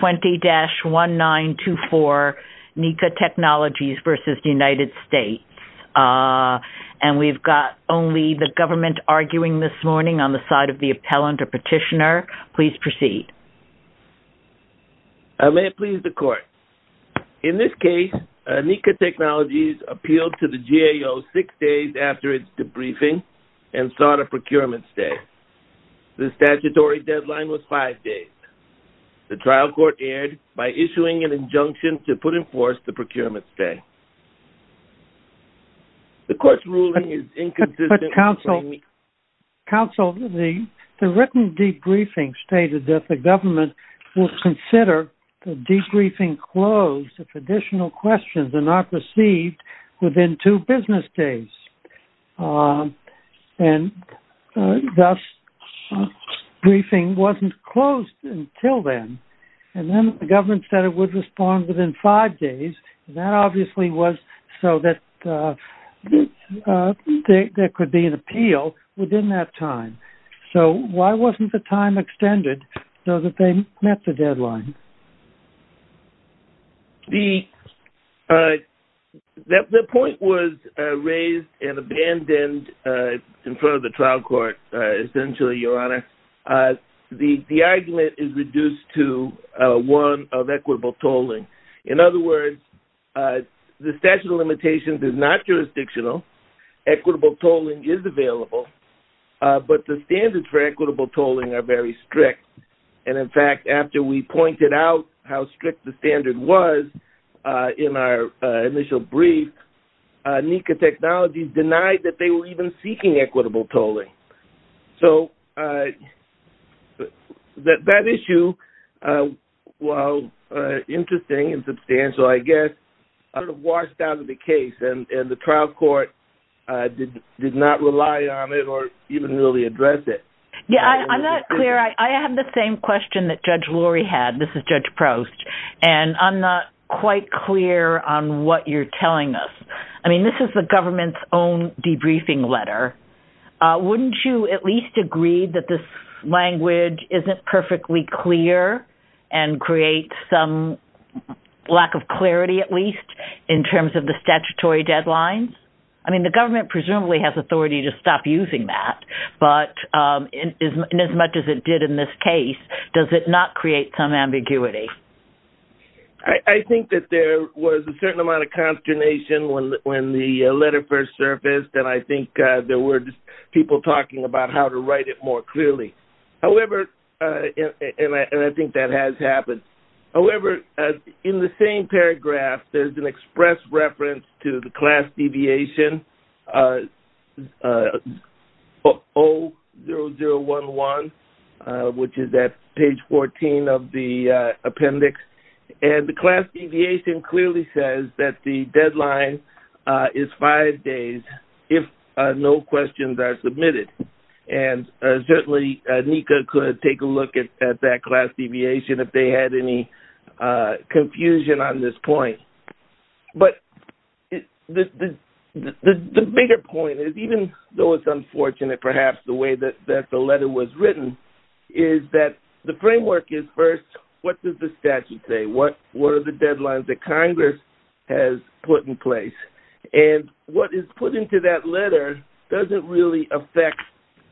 20-1924, Nika Technologies v. United States. And we've got only the government arguing this morning on the side of the appellant or petitioner. Please proceed. May it please the Court. In this case, Nika Technologies appealed to the GAO six days after its debriefing and sought a procurement stay. The statutory deadline was five days. The trial court erred by issuing an injunction to put in force the procurement stay. The Court's ruling is inconsistent with framing... But, Counsel, the written debriefing stated that the government will consider the debriefing closed if additional questions are not received within two business days. And, thus, the briefing wasn't closed until then. And then the government said it would respond within five days. That obviously was so that there could be an appeal within that time. So why wasn't the time extended so that they met the deadline? The point was raised and abandoned in front of the trial court, essentially, Your Honor. The argument is reduced to one of equitable tolling. In other words, the statute of limitations is not jurisdictional. Equitable tolling is available. But the standards for equitable tolling are very strict. And, in fact, after we pointed out how strict the standard was in our initial brief, NECA Technologies denied that they were even seeking equitable tolling. So that issue, while interesting and substantial, I guess, sort of washed out of the case and the trial court did not rely on it or even really address it. Yeah, I'm not clear. I have the same question that Judge Lori had. This is Judge Prost. And I'm not quite clear on what you're telling us. I mean, this is the government's own debriefing letter. Wouldn't you at least agree that this language isn't perfectly clear and create some lack of clarity, at least, in terms of the statutory deadlines? I mean, the government presumably has authority to stop using that. But in as much as it did in this case, does it not create some ambiguity? I think that there was a certain amount of consternation when the letter first surfaced. And I think there were people talking about how to write it more clearly. However, and I think that has happened. However, in the same paragraph, there's an express reference to the class deviation O0011, which is at page 14 of the appendix. And the class deviation clearly says that the deadline is five days if no questions are submitted. And certainly, NICA could take a look at that class deviation if they had any confusion on this point. But the bigger point is, even though it's unfortunate perhaps the way that the letter was written, is that the framework is first, what does the statute say? What were the deadlines that Congress has put in place? And what is put into that letter doesn't really affect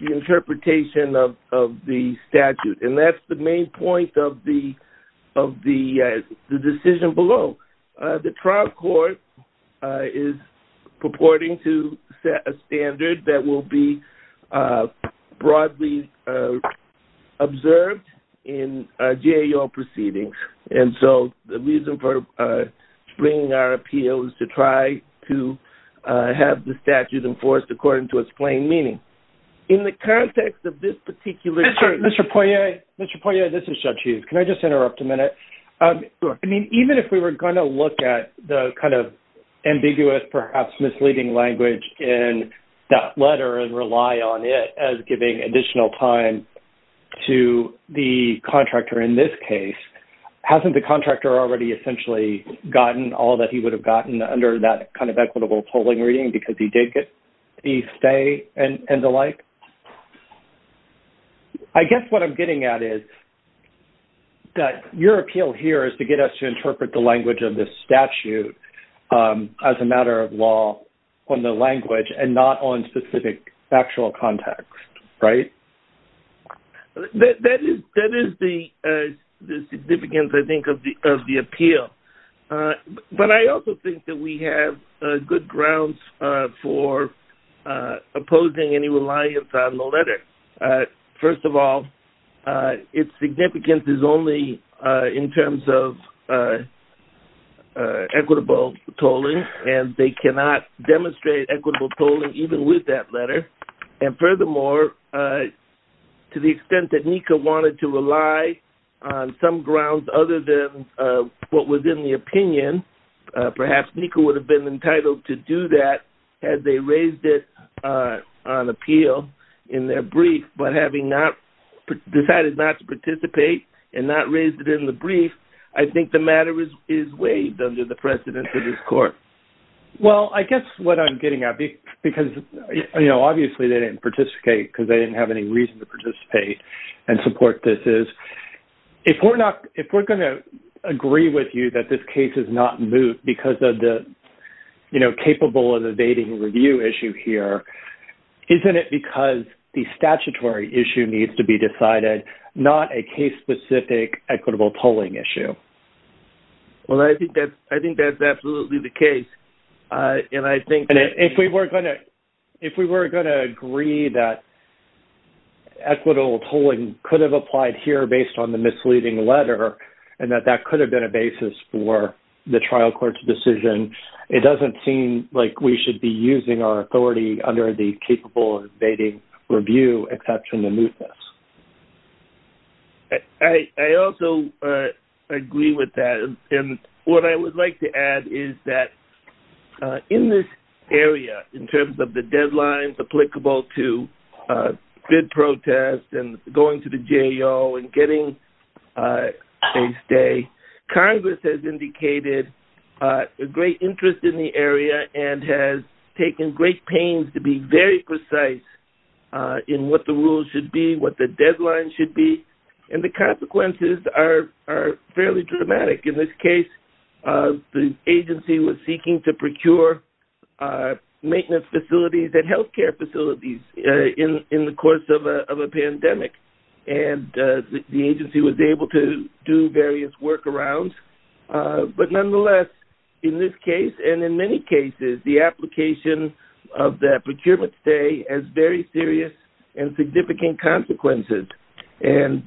the interpretation of the statute. And that's the main point of the decision below. The trial court is purporting to set a standard that will be broadly observed in GAO proceedings. And so the reason for bringing our appeal is to try to have the statute enforced according to its plain meaning. In the context of this particular case- Mr. Poirier. Mr. Poirier, this is Chuck Hughes. Can I just interrupt a minute? I mean, even if we were going to look at the kind of ambiguous, perhaps misleading language in that letter and rely on it as giving additional time to the contractor in this case, hasn't the contractor already essentially gotten all that he would have gotten under that kind of equitable polling reading because he did get the stay and the like? I guess what I'm getting at is that your appeal here is to get us to interpret the language of the statute as a matter of law on the language and not on specific actual context, right? That is the significance, I think, of the appeal. But I also think that we have good grounds for opposing any reliance on the letter. First of all, its significance is only in terms of equitable polling, and they cannot demonstrate equitable polling even with that letter. And furthermore, to the extent that NECA wanted to rely on some grounds other than what was in the opinion, perhaps NECA would have been entitled to do that had they raised it on appeal in their brief, but having decided not to participate and not raised it in the brief, I think the matter is waived under the precedence of this court. Well, I guess what I'm getting at, because obviously they didn't participate because they didn't have any reason to participate and support this, is if we're going to agree with you that this case is not moot because of the, you know, capable of evading review issue here, isn't it because the statutory issue needs to be decided, not a case-specific equitable polling issue? Well, I think that's absolutely the case. And I think that... And if we were going to agree that equitable polling could have applied here based on the misleading letter and that that could have been a basis for the trial court's decision, it doesn't seem like we should be using our authority under the capable of evading review exception to moot this. I also agree with that. And what I would like to add is that in this area, in terms of the deadlines applicable to bid protest and going to the JO and getting a stay, Congress has indicated a great interest in the area and has taken great pains to be very precise in what the rules should be, what the deadlines should be, and the consequences are fairly dramatic. In this case, the agency was seeking to procure maintenance facilities and healthcare facilities in the course of a pandemic. And the agency was able to do various workarounds. But nonetheless, in this case, and in many cases, the application of that procurement stay has very serious and significant consequences. And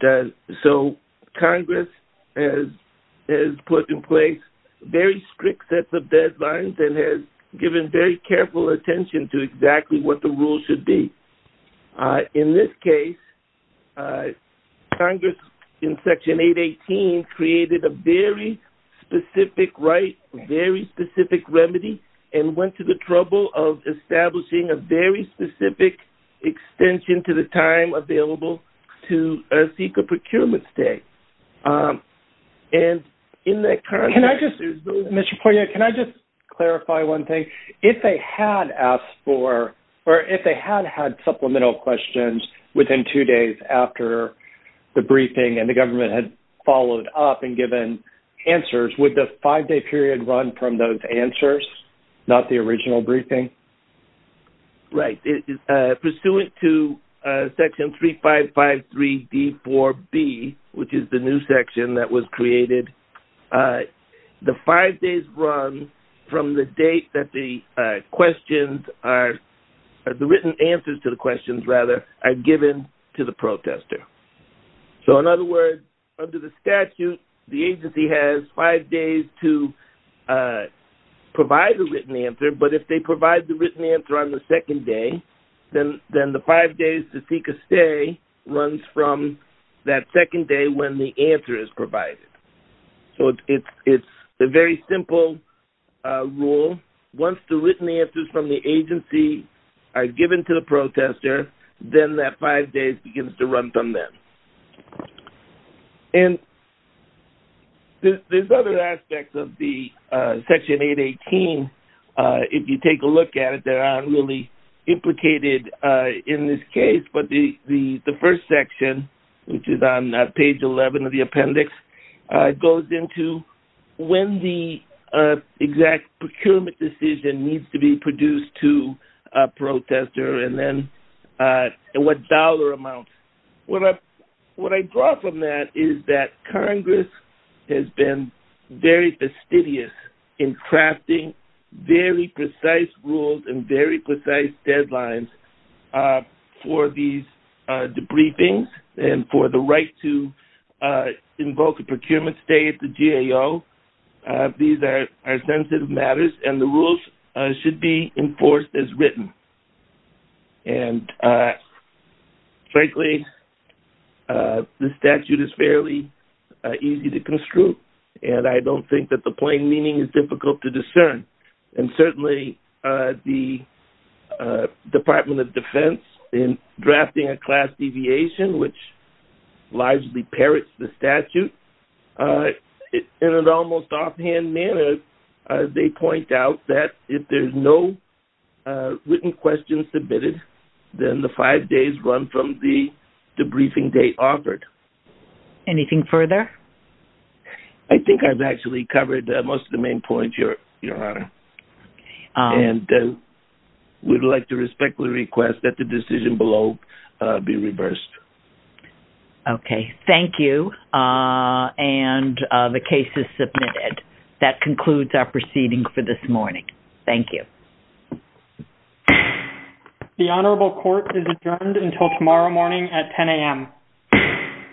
so Congress has put in place very strict sets of deadlines and has given very careful attention to exactly what the rules should be. In this case, Congress, in Section 818, created a very specific right, very specific remedy, and went to the trouble of establishing a very specific extension to the time available to seek a procurement stay. And in that current... Can I just, Mr. Poirier, can I just clarify one thing? If they had asked for, or if they had had supplemental questions within two days after the briefing and the government had followed up and given answers, would the five-day period run from those answers, not the original briefing? Right. Pursuant to Section 3553D4B, which is the new section that was created, the five days run from the date that the questions are...the written answers to the questions, rather, are given to the protester. So in other words, under the statute, the agency has five days to provide the written answer, but if they provide the written answer on the second day, then the five days to seek a stay runs from that second day when the answer is provided. So it's a very simple rule. Once the written answers from the agency are given to the protester, then that five days begins to run from then. And there's other aspects of the Section 818. If you take a look at it, they're not really implicated in this case, but the first section, which is on page 11 of the appendix, goes into when the exact procurement decision needs to be produced to a protester and then what dollar amount. What I draw from that is that Congress has been very fastidious in crafting very precise rules and very precise deadlines for these debriefings and for the right to invoke a procurement stay at the GAO. These are sensitive matters, and the rules should be enforced as written. And frankly, the statute is fairly easy to construe, and I don't think that the plain meaning is difficult to discern. And certainly, the Department of Defense, in drafting a class deviation, which largely parrots the statute, in an almost offhand manner, they point out that if there's no written questions submitted, then the five days run from the debriefing date offered. Anything further? I think I've actually covered most of the main points, Your Honor. And we'd like to respectfully request that the decision below be reversed. Okay. Thank you. And the case is submitted. That concludes our proceeding for this morning. Thank you. The honorable court is adjourned until tomorrow morning at 10 a.m.